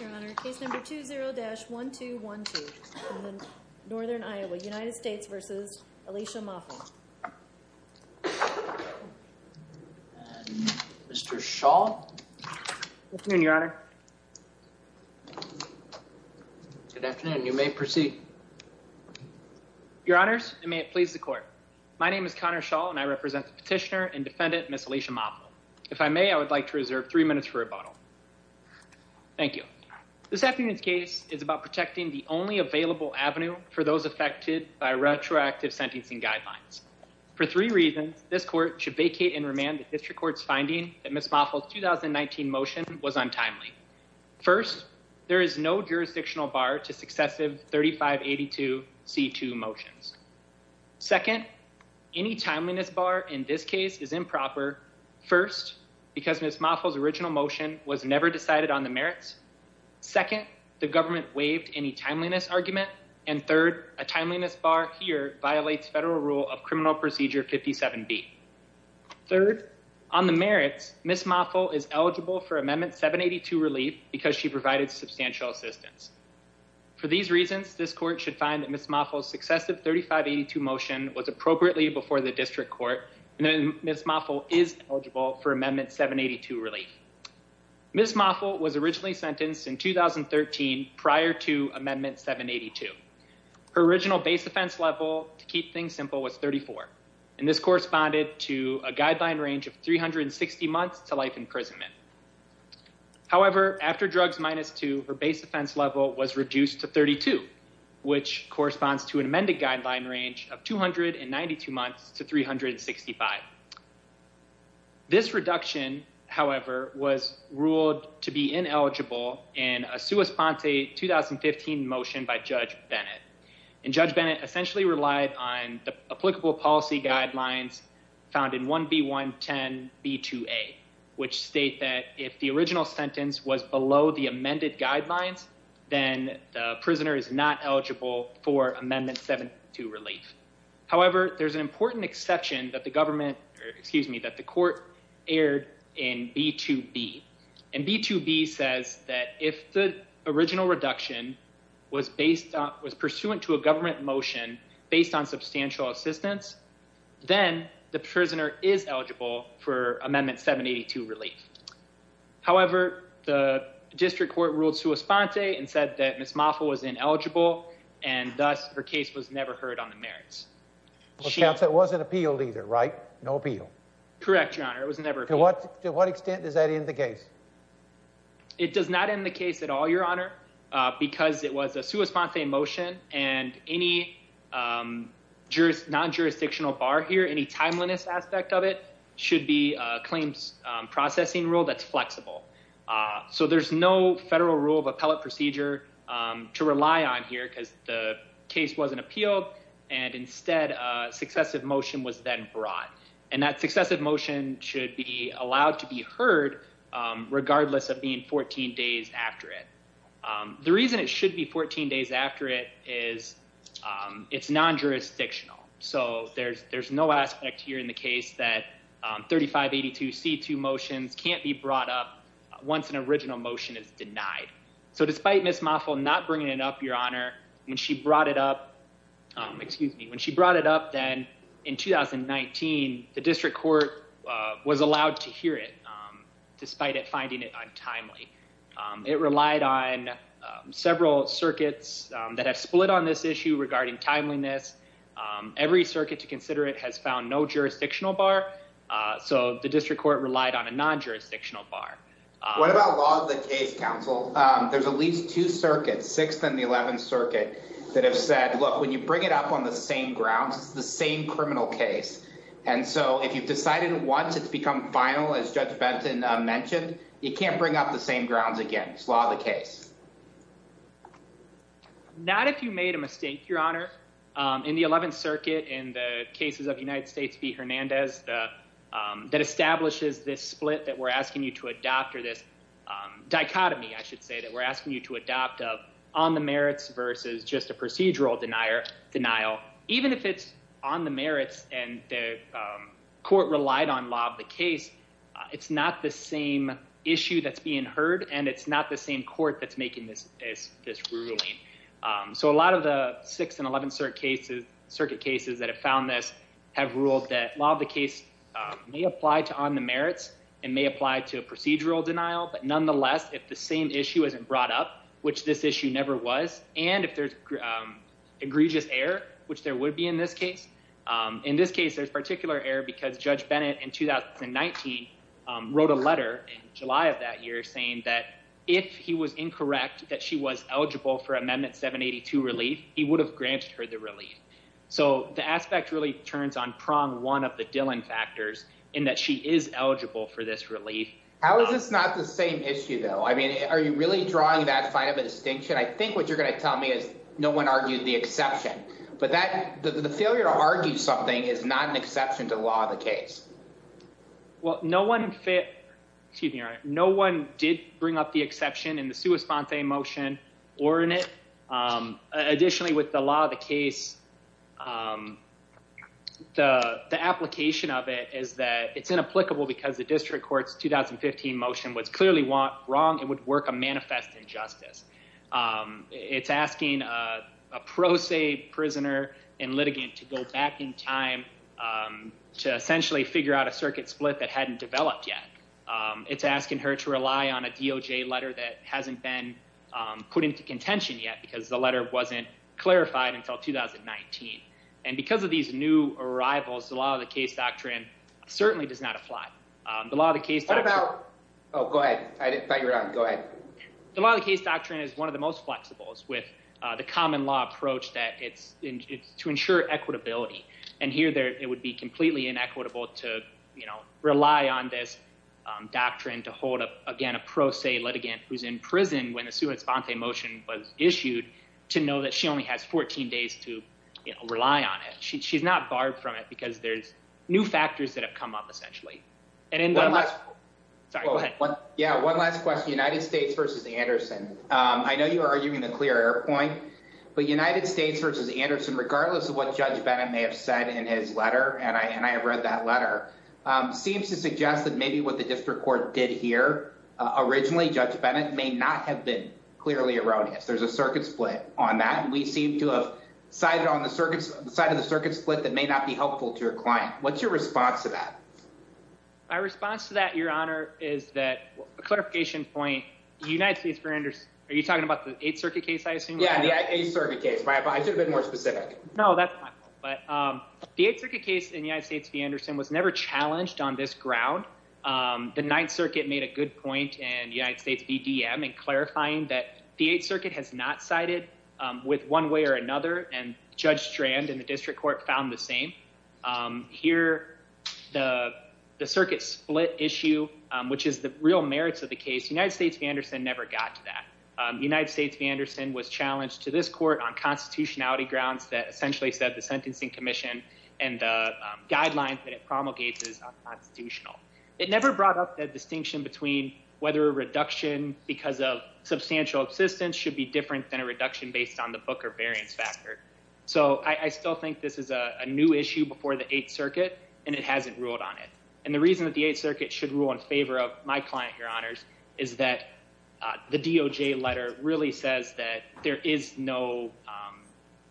Your Honor, case number 20-1212, Northern Iowa, United States v. Alicia Mofle. Mr. Schall. Good afternoon, Your Honor. Good afternoon. You may proceed. Your Honors, and may it please the Court. My name is Connor Schall and I represent the petitioner and defendant, Ms. Alicia Mofle. If I may, I would like to reserve three minutes for rebuttal. Thank you. This afternoon's case is about protecting the only available avenue for those affected by retroactive sentencing guidelines. For three reasons, this Court should vacate and remand the District Court's finding that Ms. Mofle's 2019 motion was untimely. First, there is no jurisdictional bar to successive 3582C2 motions. Second, any timeliness bar in this case is improper. First, because Ms. Mofle's original motion was never decided on the merits. Second, the government waived any timeliness argument. And third, a timeliness bar here violates federal rule of Criminal Procedure 57B. Third, on the merits, Ms. Mofle is eligible for Amendment 782 relief because she provided substantial assistance. For these reasons, this Court should find that Ms. Mofle's successive 3582C2 motion was appropriately before the District Court and that Ms. Mofle is eligible for Amendment 782 relief. Ms. Mofle was originally sentenced in 2013 prior to Amendment 782. Her original base offense level, to keep things simple, was 34. And this corresponded to a guideline range of 360 months to life imprisonment. However, after drugs minus two, her base offense level was reduced to 32, which corresponds to an amended guideline range of 292 months to 365. This reduction, however, was ruled to be ineligible in a sua sponte 2015 motion by Judge Bennett. And Judge Bennett essentially relied on the applicable policy guidelines found in 1B110B2A, which state that if the original sentence was below the amended guidelines, then the prisoner is not eligible for Amendment 782 relief. However, there's an important exception that the government, excuse me, that the Court aired in B2B. And B2B says that if the original reduction was based on, was pursuant to a government motion based on substantial assistance, then the prisoner is eligible for Amendment 782 relief. However, the district court ruled sua sponte and said that Ms. Mofle was ineligible, and thus her case was never heard on the merits. Well, counsel, it wasn't appealed either, right? No appeal. Correct, Your Honor. It was never appealed. To what extent does that end the case? It does not end the case at all, Your Honor, because it was a sua sponte motion, and any juris, non-jurisdictional bar here, any timeliness aspect of it should be a claims processing rule that's flexible. So there's no federal rule of appellate procedure to rely on here because the case wasn't appealed, and instead a successive motion was then brought. And that successive motion should be allowed to be heard regardless of being 14 days after it. The reason it should be 14 days after it is it's non-jurisdictional. So there's no aspect here in the case that 3582C2 motions can't be brought up once an original motion is denied. So despite Ms. Mofle not bringing it up, Your Honor, when she brought it up, excuse me, when she brought it up then in 2019, the district court was allowed to hear it despite it finding it untimely. It relied on several circuits that have split on this issue regarding timeliness. Every circuit to consider it has found no jurisdictional bar, so the district court relied on a non-jurisdictional bar. What about law of the case, counsel? There's at least two circuits, 6th and the 11th circuit, that have said, look, when you bring it up on the same grounds, it's the same criminal case. And so if you've decided once it's become final, as Judge Benton mentioned, you can't bring up the same grounds again. It's law of the case. Not if you made a mistake, Your Honor. In the 11th circuit, in the cases of United States v. Hernandez, that establishes this split that we're asking you to adopt or this dichotomy, I should say, that we're asking you to adopt of on the merits versus just a procedural denial. Even if it's on the merits and the court relied on law of the case, it's not the same issue that's being heard, and it's not the same court that's making this ruling. So a lot of the 6th and 11th circuit cases that have found this have ruled that law of the case may apply to on the merits and may apply to a procedural denial. But nonetheless, if the same issue isn't brought up, which this issue never was, and if there's egregious error, which there would be in this case. In this case, there's particular error because Judge Bennett in 2019 wrote a letter in July of that year saying that if he was incorrect, that she was eligible for Amendment 782 relief, he would have granted her the relief. So the aspect really turns on prong one of the Dillon factors in that she is eligible for this relief. How is this not the same issue though? I mean, are you really drawing that fine of a distinction? I think what you're going to tell me is no one argued the exception, but that the failure to argue something is not an exception to the law of the case. Well, no one fit, excuse me, no one did bring up the exception in the sua sponte motion or in it. Additionally, with the law of the case, the application of it is that it's inapplicable because the district court's 2015 motion was clearly wrong. It would work a manifest injustice. It's asking a pro se prisoner and litigant to go back in time, um, to essentially figure out a circuit split that hadn't developed yet. Um, it's asking her to rely on a DOJ letter that hasn't been, um, put into contention yet because the letter wasn't clarified until 2019. And because of these new arrivals, the law of the case doctrine certainly does not apply. Um, the law of the case. Oh, go ahead. I didn't figure it out. Go ahead. The law of the case doctrine is one of the most flexibles with the common law approach that it's to ensure equitability. And here there, it would be completely inequitable to, you know, rely on this, um, doctrine to hold up again, a pro se litigant who's in prison when the sua sponte motion was issued to know that she only has 14 days to rely on it. She's not barred from it because there's new factors that have come up essentially. And in the last, sorry, go ahead. Yeah. One last question. United States versus the Anderson. Um, I know you are arguing the point, but United States versus Anderson, regardless of what judge Bennett may have said in his letter. And I, and I have read that letter, um, seems to suggest that maybe what the district court did here, uh, originally judge Bennett may not have been clearly erroneous. There's a circuit split on that. And we seem to have sided on the circuits side of the circuit split that may not be helpful to your client. What's your response to that? My response to that your honor is that a clarification point, the United States for Anderson, are you talking about the eighth circuit case? I assume. Yeah. The eighth circuit case, but I should have been more specific. No, that's fine. But, um, the eighth circuit case in United States v Anderson was never challenged on this ground. Um, the ninth circuit made a good point and United States BDM and clarifying that the eighth circuit has not sided, um, with one way or another and judge strand and the district court found the same, um, here, the, the circuit split issue, um, which is the real merits of the case. United States v Anderson never got to that. Um, United States v Anderson was challenged to this court on constitutionality grounds that essentially said the sentencing commission and, uh, um, guidelines that it promulgates is constitutional. It never brought up that distinction between whether a reduction because of substantial assistance should be different than a reduction based on the book or variance factor. So I still think this is a new issue before the eighth circuit and it hasn't ruled on it. And the reason that the eighth circuit should rule in favor of my client, your honors is that, uh, the DOJ letter really says that there is no, um,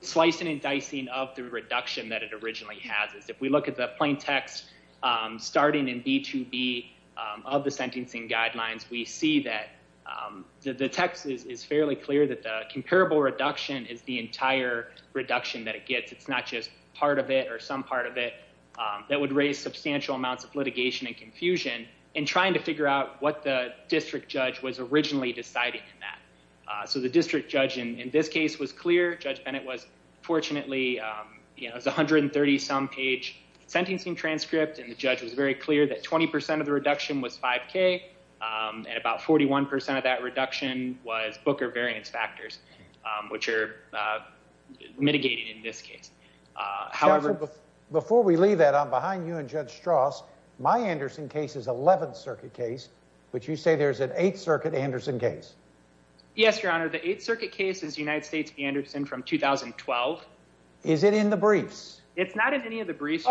slicing and dicing of the reduction that it originally has is if we look at the plain text, um, starting in B2B, um, of the sentencing guidelines, we see that, um, the, the Texas is fairly clear that the comparable reduction is the entire reduction that it gets. It's not just part of it or some part of it, um, that would raise substantial amounts of litigation and confusion and trying to figure out what the district judge was originally deciding in that. Uh, so the district judge in this case was clear. Judge Bennett was fortunately, um, you know, it was 130 some page sentencing transcript and the judge was very clear that 20% of the reduction was five K. Um, and about 41% of that reduction was Booker variance factors, um, which are, uh, mitigated in this case. Uh, however, before we leave that on behind you and judge Strauss, my Anderson case is 11th circuit case, which you say there's an eighth circuit Anderson case. Yes, your honor. The eighth circuit case is United States Anderson from 2012. Is it in the briefs? It's not in any of the briefs.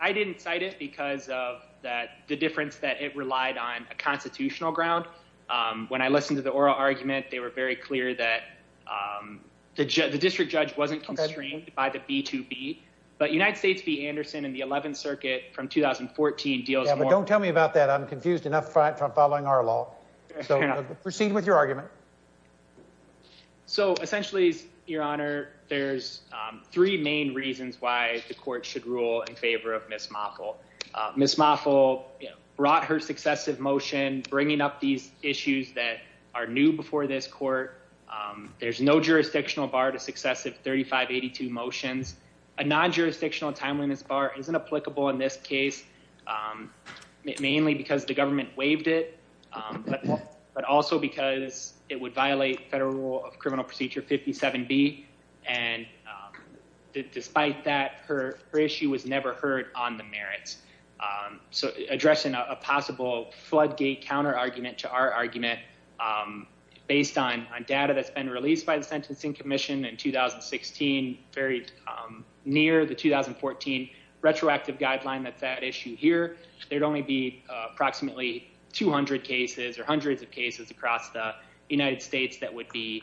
I didn't cite it because of that. The difference that it relied on a constitutional ground. Um, when I listened to the oral argument, they were very clear that, um, the judge, the district judge wasn't constrained by the B2B, but United States be Anderson in the 11th circuit from 2014 deals. But don't tell me about that. I'm confused enough from following our law. So proceed with your argument. So essentially your honor, there's, um, three main reasons why the court should rule in favor of Ms. Moffell. Uh, Ms. Moffell brought her successive motion, bringing up these issues that are new before this court. Um, there's no jurisdictional bar to successive 3582 motions, a non-jurisdictional timeliness bar isn't applicable in this case. Um, mainly because the government waived it. Um, but, but also because it would violate federal of criminal procedure 57 B. And, um, despite that her, her issue was never heard on the merits. Um, so addressing a possible floodgate counter argument to our argument, um, based on, on data that's been released by the sentencing commission in 2016, very, um, near the 2014 retroactive guideline. That's that issue here. There'd only be approximately 200 cases or United States that would be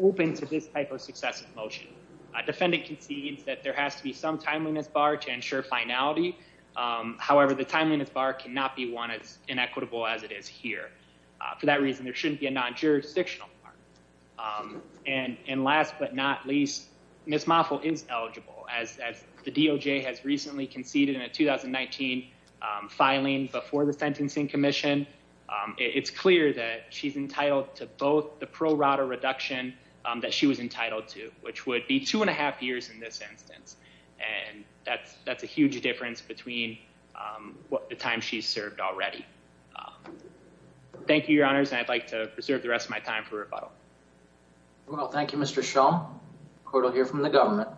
open to this type of successive motion. A defendant can see that there has to be some timeliness bar to ensure finality. Um, however, the timeliness bar cannot be one as inequitable as it is here. For that reason, there shouldn't be a non-jurisdictional. Um, and, and last but not least Ms. Moffell is eligible as, as the DOJ has recently conceded in a 2019, um, filing before the sentencing commission. Um, it's clear that she's entitled to both the pro rata reduction, um, that she was entitled to, which would be two and a half years in this instance. And that's, that's a huge difference between, um, what the time she's served already. Thank you, your honors. And I'd like to preserve the rest of my time for rebuttal. Well, thank you, Mr. Shaw. Court will hear from the government.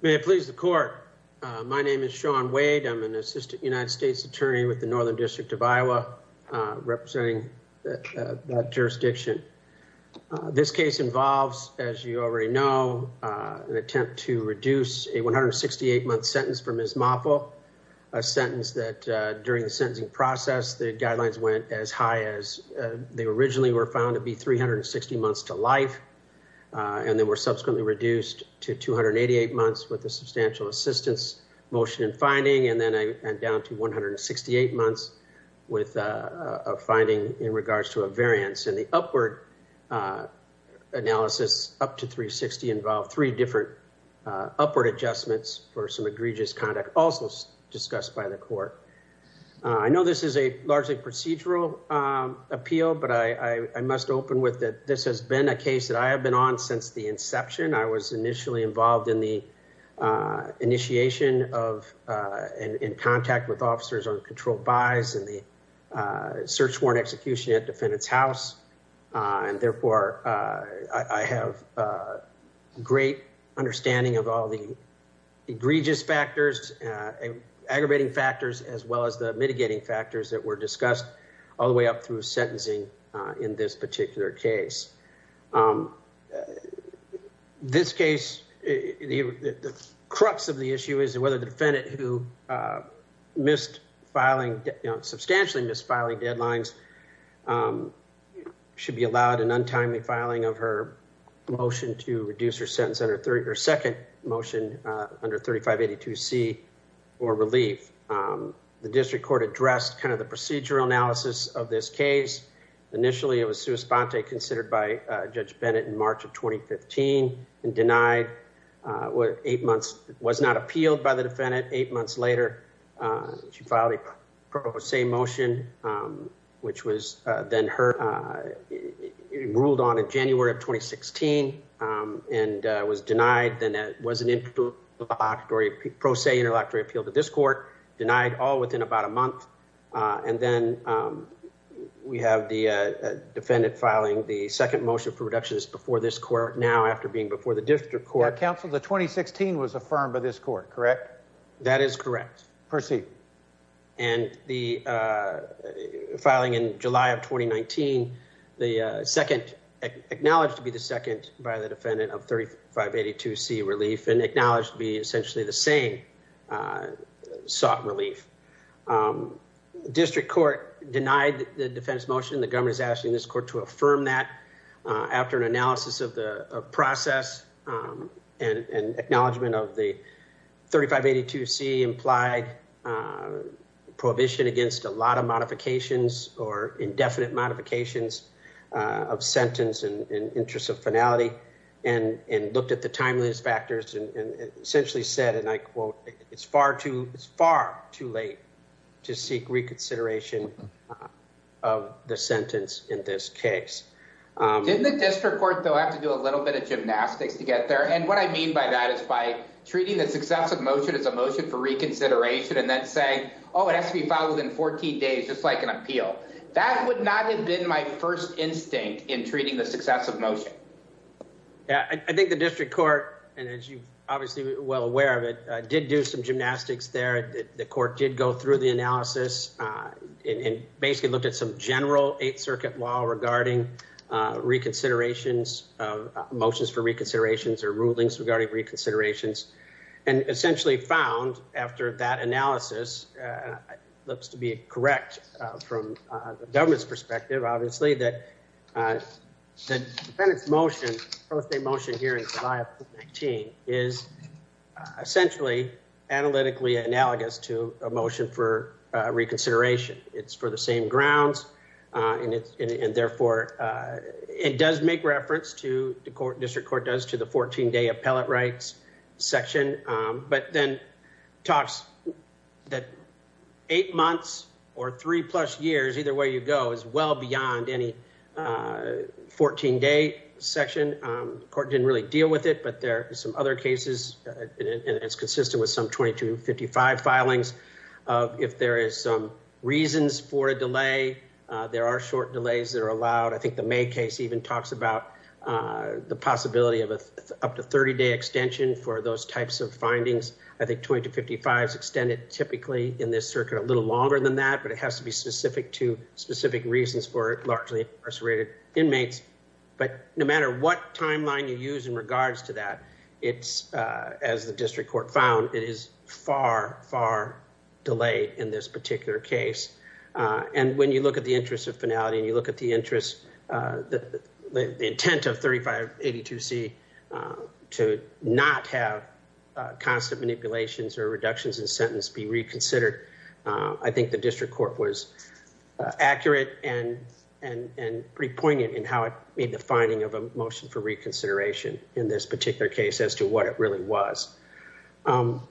May it please the court. Uh, my name is Shawn Wade. I'm an assistant United States attorney with the Northern district of Iowa, uh, representing that, uh, that jurisdiction. This case involves, as you already know, uh, an attempt to reduce a 168 month sentence for Ms. Moffell, a sentence that, uh, during the sentencing process, the guidelines went as high as, uh, they subsequently reduced to 288 months with a substantial assistance motion and finding. And then I, and down to 168 months with, uh, uh, finding in regards to a variance and the upward, uh, analysis up to 360 involved three different, uh, upward adjustments for some egregious conduct also discussed by the court. Uh, I know this is a largely procedural, um, appeal, but I, I must open with that. This has been a case that I have been on since the inception. I was initially involved in the, uh, initiation of, uh, in, in contact with officers on control buys and the, uh, search warrant execution at defendant's house. Uh, and therefore, uh, I have, uh, great understanding of all the egregious factors, uh, aggravating factors, as well as mitigating factors that were discussed all the way up through sentencing, uh, in this particular case. Um, this case, the crux of the issue is whether the defendant who, uh, missed filing, you know, substantially missed filing deadlines, um, should be allowed an untimely filing of her motion to reduce her sentence under 30 or second motion, uh, under 3582 C or relief. Um, the district court addressed kind of the procedural analysis of this case. Initially, it was sui sponte considered by, uh, judge Bennett in March of 2015 and denied, uh, what eight months was not appealed by the defendant. Eight months later, uh, she filed a pro se motion, um, which was, uh, then her, uh, ruled on in January of 2016, um, and, uh, was denied. Then that wasn't the introductory pro se introductory appeal to this court denied all within about a month. Uh, and then, um, we have the, uh, defendant filing the second motion for reductions before this court now after being before the district court council, the 2016 was affirmed by this court, correct? That is correct. And the, uh, filing in July of 2019, the, uh, second acknowledged to be the by the defendant of 3582 C relief and acknowledged to be essentially the same, uh, sought relief. Um, district court denied the defense motion. The government is asking this court to affirm that, uh, after an analysis of the process, um, and, and acknowledgement of the 3582 C implied, uh, prohibition against a lot of modifications or indefinite modifications, uh, of sentence and interest of finality and, and looked at the timeliness factors and essentially said, and I quote, it's far too, it's far too late to seek reconsideration, uh, of the sentence in this case. Um, didn't the district court though, I have to do a little bit of gymnastics to get there. And what I mean by that is by treating the success of motion as a motion for reconsideration. And then saying, Oh, it has to be filed within 14 days. Just like an appeal that would not have my first instinct in treating the success of motion. Yeah, I think the district court, and as you've obviously well aware of it, uh, did do some gymnastics there. The court did go through the analysis, uh, and basically looked at some general eighth circuit law regarding, uh, reconsiderations of motions for reconsiderations or rulings regarding reconsiderations and essentially found after that analysis, uh, looks to be correct, uh, the government's perspective, obviously that, uh, the defendant's motion, birthday motion here in July of 2019 is essentially analytically analogous to a motion for a reconsideration. It's for the same grounds. Uh, and it's, and therefore, uh, it does make reference to the court district court does to the 14 day appellate rights section. Um, but then talks that eight months or three plus years, either way you go is well beyond any, uh, 14 day section. Um, court didn't really deal with it, but there are some other cases and it's consistent with some 2255 filings of if there is some reasons for a delay, uh, there are short delays that are allowed. I think the May case even talks about, uh, the possibility of up to 30 day extension for those but it has to be specific to specific reasons for largely incarcerated inmates. But no matter what timeline you use in regards to that, it's, uh, as the district court found, it is far, far delayed in this particular case. Uh, and when you look at the interest of finality and you look at the interest, uh, the, the, the intent of 3582C, uh, to not have a constant manipulations or I think the district court was accurate and, and, and pretty poignant in how it made the finding of a motion for reconsideration in this particular case as to what it really was. Um,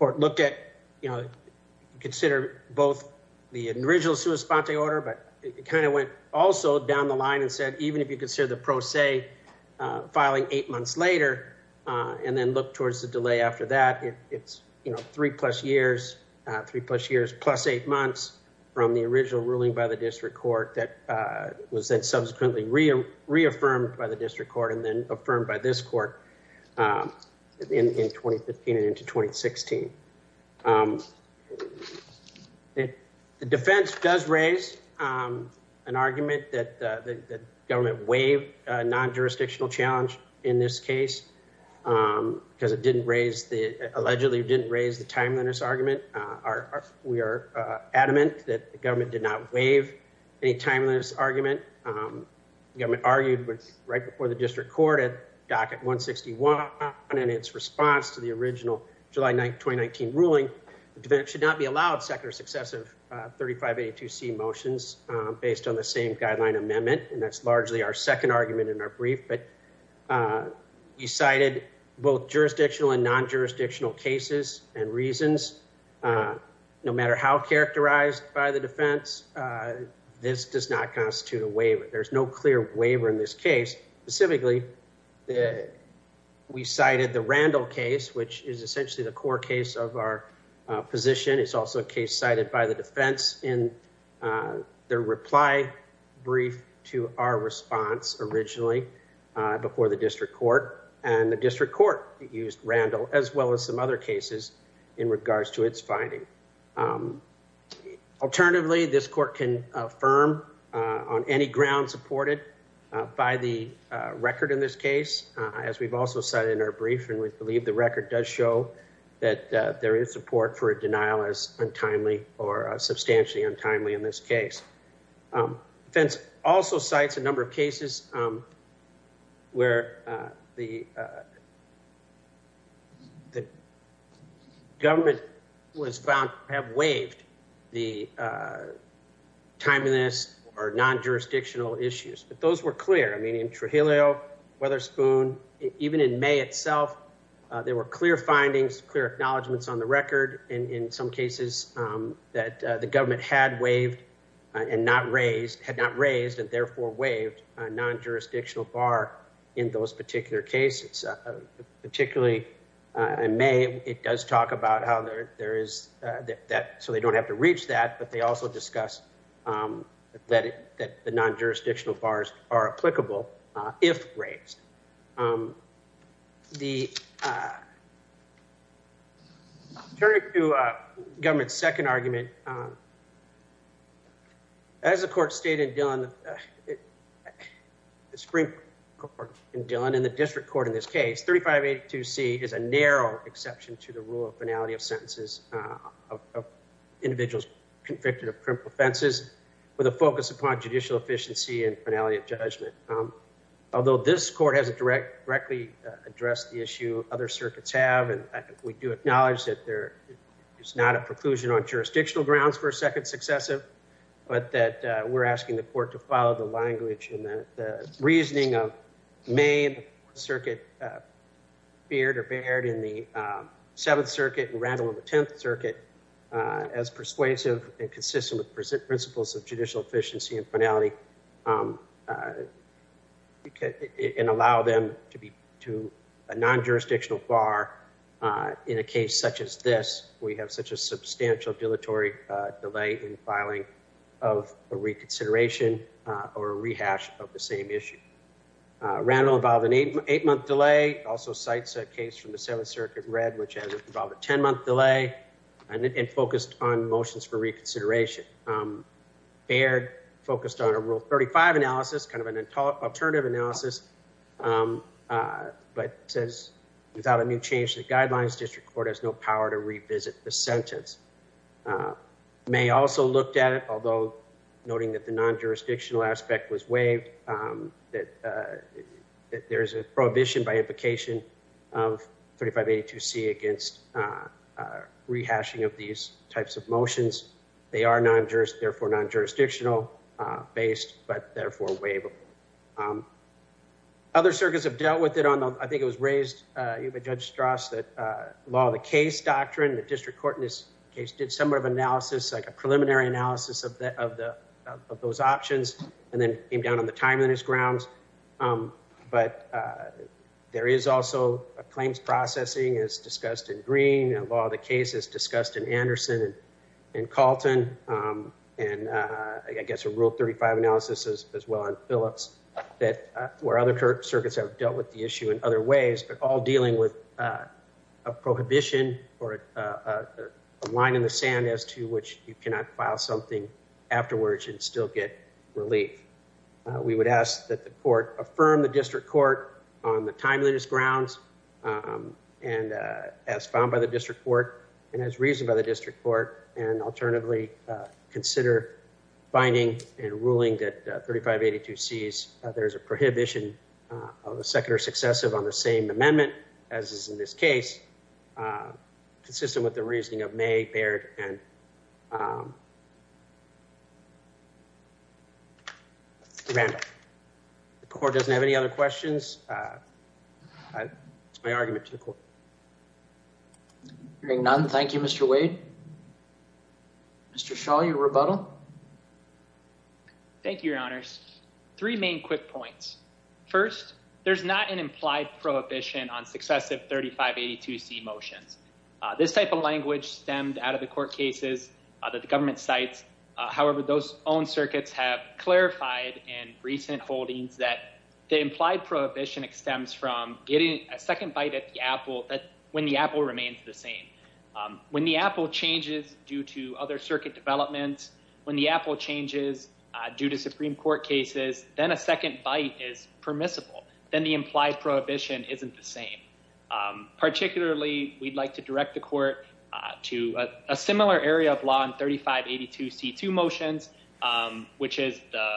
or looked at, you know, consider both the original sua sponte order, but it kind of went also down the line and said, even if you consider the pro se, uh, filing eight months later, uh, and then look towards the delay after that, it's, you know, three plus years, uh, three plus years plus eight months from the original ruling by the district court that, uh, was then subsequently reaffirmed by the district court and then affirmed by this court, um, in, in 2015 and into 2016. Um, the defense does raise, um, an argument that, uh, the government waived a non-jurisdictional challenge in this case, um, because it didn't raise the, allegedly didn't raise the timeliness argument. Uh, our, our, we are, uh, adamant that the government did not waive any timeliness argument. Um, the government argued with right before the district court at docket 161 and in its response to the original July 9th, 2019 ruling, the defense should not be allowed second or successive, uh, 3582C motions, um, based on the same guideline amendment. And that's largely our second argument in our brief, but, uh, you cited both jurisdictional and non-jurisdictional cases and reasons, uh, no matter how characterized by the defense, uh, this does not constitute a waiver. There's no clear waiver in this case. Specifically, uh, we cited the Randall case, which is essentially the core case of our, uh, position. It's also a case cited by the defense in, uh, their reply brief to our response originally, uh, before the district court and the district court used Randall as well as some other cases in regards to its finding. Um, alternatively, this court can affirm, uh, on any ground supported, uh, by the, uh, record in this case, uh, as we've also cited in our brief, and we believe the record does show that, uh, there is support for a denial as untimely or a substantially untimely in this case. Um, also cites a number of cases, um, where, uh, the, uh, the government was found have waived the, uh, timeliness or non-jurisdictional issues, but those were clear. I mean, in Trujillo, Weatherspoon, even in May itself, uh, there were clear findings, clear acknowledgments on the waived a non-jurisdictional bar in those particular cases, uh, particularly, uh, in May, it does talk about how there, there is, uh, that, that, so they don't have to reach that, but they also discuss, um, that it, that the non-jurisdictional bars are applicable, uh, if the, uh, turning to, uh, government's second argument, um, as the court stated in Dillon, the Supreme Court in Dillon and the district court in this case, 3582C is a narrow exception to the rule of finality of sentences, uh, of individuals convicted of crimp offenses with a focus upon judicial efficiency and finality of judgment. Um, although this court hasn't direct, directly, uh, addressed the issue other circuits have, and we do acknowledge that there is not a preclusion on jurisdictional grounds for a second successive, but that, uh, we're asking the court to follow the language and the reasoning of main circuit, uh, Beard or Baird in the, um, seventh circuit and Randall in the 10th circuit, uh, as persuasive and consistent with present principles of judicial efficiency and finality, um, uh, and allow them to be to a non-jurisdictional bar, uh, in a case such as this, we have such a substantial dilatory, uh, delay in filing of a reconsideration, uh, or a rehash of the same issue. Uh, Randall involved in eight, eight month delay also sites that case from the seventh circuit read, which has involved a 10 consideration. Um, Baird focused on a rule 35 analysis, kind of an untaught alternative analysis. Um, uh, but says without a new change to the guidelines, district court has no power to revisit the sentence. Uh, may also looked at it, although noting that the non-jurisdictional aspect was waived, um, that, uh, that there's a prohibition by implication of 3582 C against, uh, uh, rehashing of these types of motions. They are non-juris, therefore non-jurisdictional, uh, based, but therefore waiveable. Um, other circuits have dealt with it on the, I think it was raised, uh, you have a judge Strauss that, uh, law of the case doctrine, the district court in this case did some of analysis, like a preliminary analysis of the, of the, of those options, and then came down on the timeliness grounds. Um, but, uh, there is also a claims processing as discussed in green law. The case is discussed in Anderson and Calton. Um, and, uh, I guess a rule 35 analysis as well on Phillips that, uh, where other circuits have dealt with the issue in other ways, but all dealing with, uh, a prohibition or a line in the sand as to which you cannot file something afterwards and still get relief. Uh, we would ask that the court affirm the district court on the timeliness grounds, um, and, uh, as found by the district court and as reasoned by the district court and alternatively, uh, consider binding and ruling that, uh, 3582Cs, uh, there's a prohibition, uh, of a second or successive on the same amendment as is in this case, uh, consistent with the reasoning of May, Baird, and, um, Mr. Randolph. The court doesn't have any other questions. Uh, uh, my argument to the court. Hearing none. Thank you, Mr. Wade. Mr. Shaw, your rebuttal. Thank you, your honors. Three main quick points. First, there's not an implied prohibition on successive 3582C motions. Uh, this type of language stemmed out of the court cases, the government sites. Uh, however, those own circuits have clarified in recent holdings that the implied prohibition extends from getting a second bite at the apple that when the apple remains the same, um, when the apple changes due to other circuit developments, when the apple changes, uh, due to Supreme court cases, then a second bite is permissible. Then the implied isn't the same. Um, particularly we'd like to direct the court, uh, to a similar area of law and 3582C2 motions, um, which is the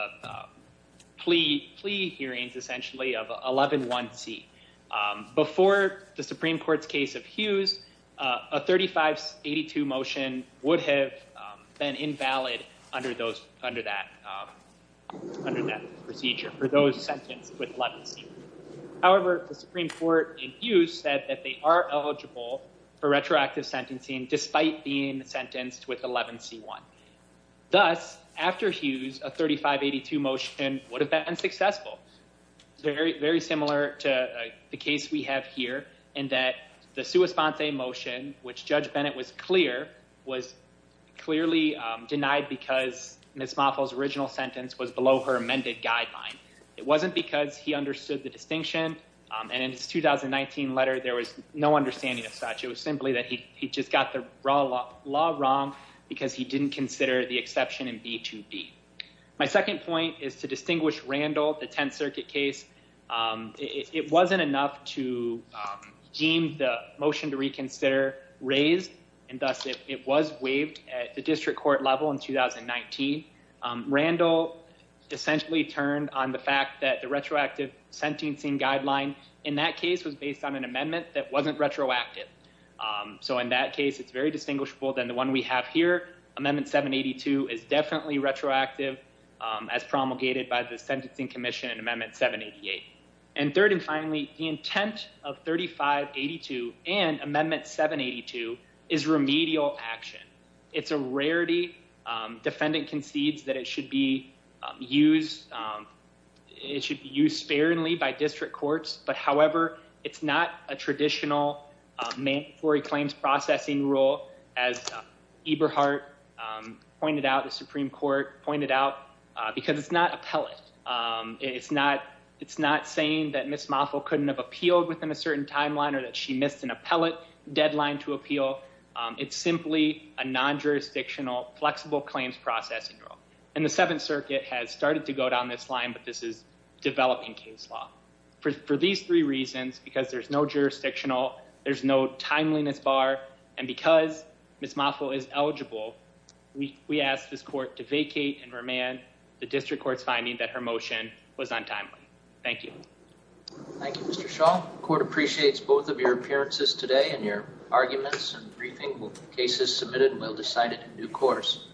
plea plea hearings, essentially of 111C, um, before the Supreme court's case of Hughes, uh, a 3582 motion would have been invalid under those, under that, under that procedure for those sentenced with 11C. However, the Supreme court in Hughes said that they are eligible for retroactive sentencing despite being sentenced with 11C1. Thus, after Hughes, a 3582 motion would have been unsuccessful. Very, very similar to the case we have here in that the sua sponte motion, which judge Bennett was clear was clearly, um, denied because Ms. Mothel's original sentence was below her amended guideline. It wasn't because he understood the distinction. Um, and in his 2019 letter, there was no understanding of such. It was simply that he, he just got the raw law wrong because he didn't consider the exception in B2B. My second point is to distinguish Randall, the 10th circuit case. Um, it wasn't enough to, um, motion to reconsider raised and thus it was waived at the district court level in 2019. Randall essentially turned on the fact that the retroactive sentencing guideline in that case was based on an amendment that wasn't retroactive. Um, so in that case, it's very distinguishable than the one we have here. Amendment 782 is definitely retroactive, um, as promulgated by the sentencing commission and amendment 788. And third and finally, the intent of 3582 and amendment 782 is remedial action. It's a rarity. Um, defendant concedes that it should be used. Um, it should be used sparingly by district courts, but however, it's not a traditional, um, mandatory claims processing rule as Eberhardt, um, pointed out, the Supreme court pointed out, uh, because it's not appellate. Um, it's not, it's not saying that Ms. Moffill couldn't have appealed within a certain timeline or that she missed an appellate deadline to appeal. Um, it's simply a non-jurisdictional flexible claims processing rule. And the seventh circuit has started to go down this line, but this is developing case law for, for these three reasons, because there's no jurisdictional, there's no timeliness bar. And because Ms. Moffill is eligible, we, we asked this court to vacate and remand the district court's finding that her motion was untimely. Thank you. Thank you, Mr. Shaw. Court appreciates both of your appearances today and your arguments and briefing cases submitted. Well decided new course.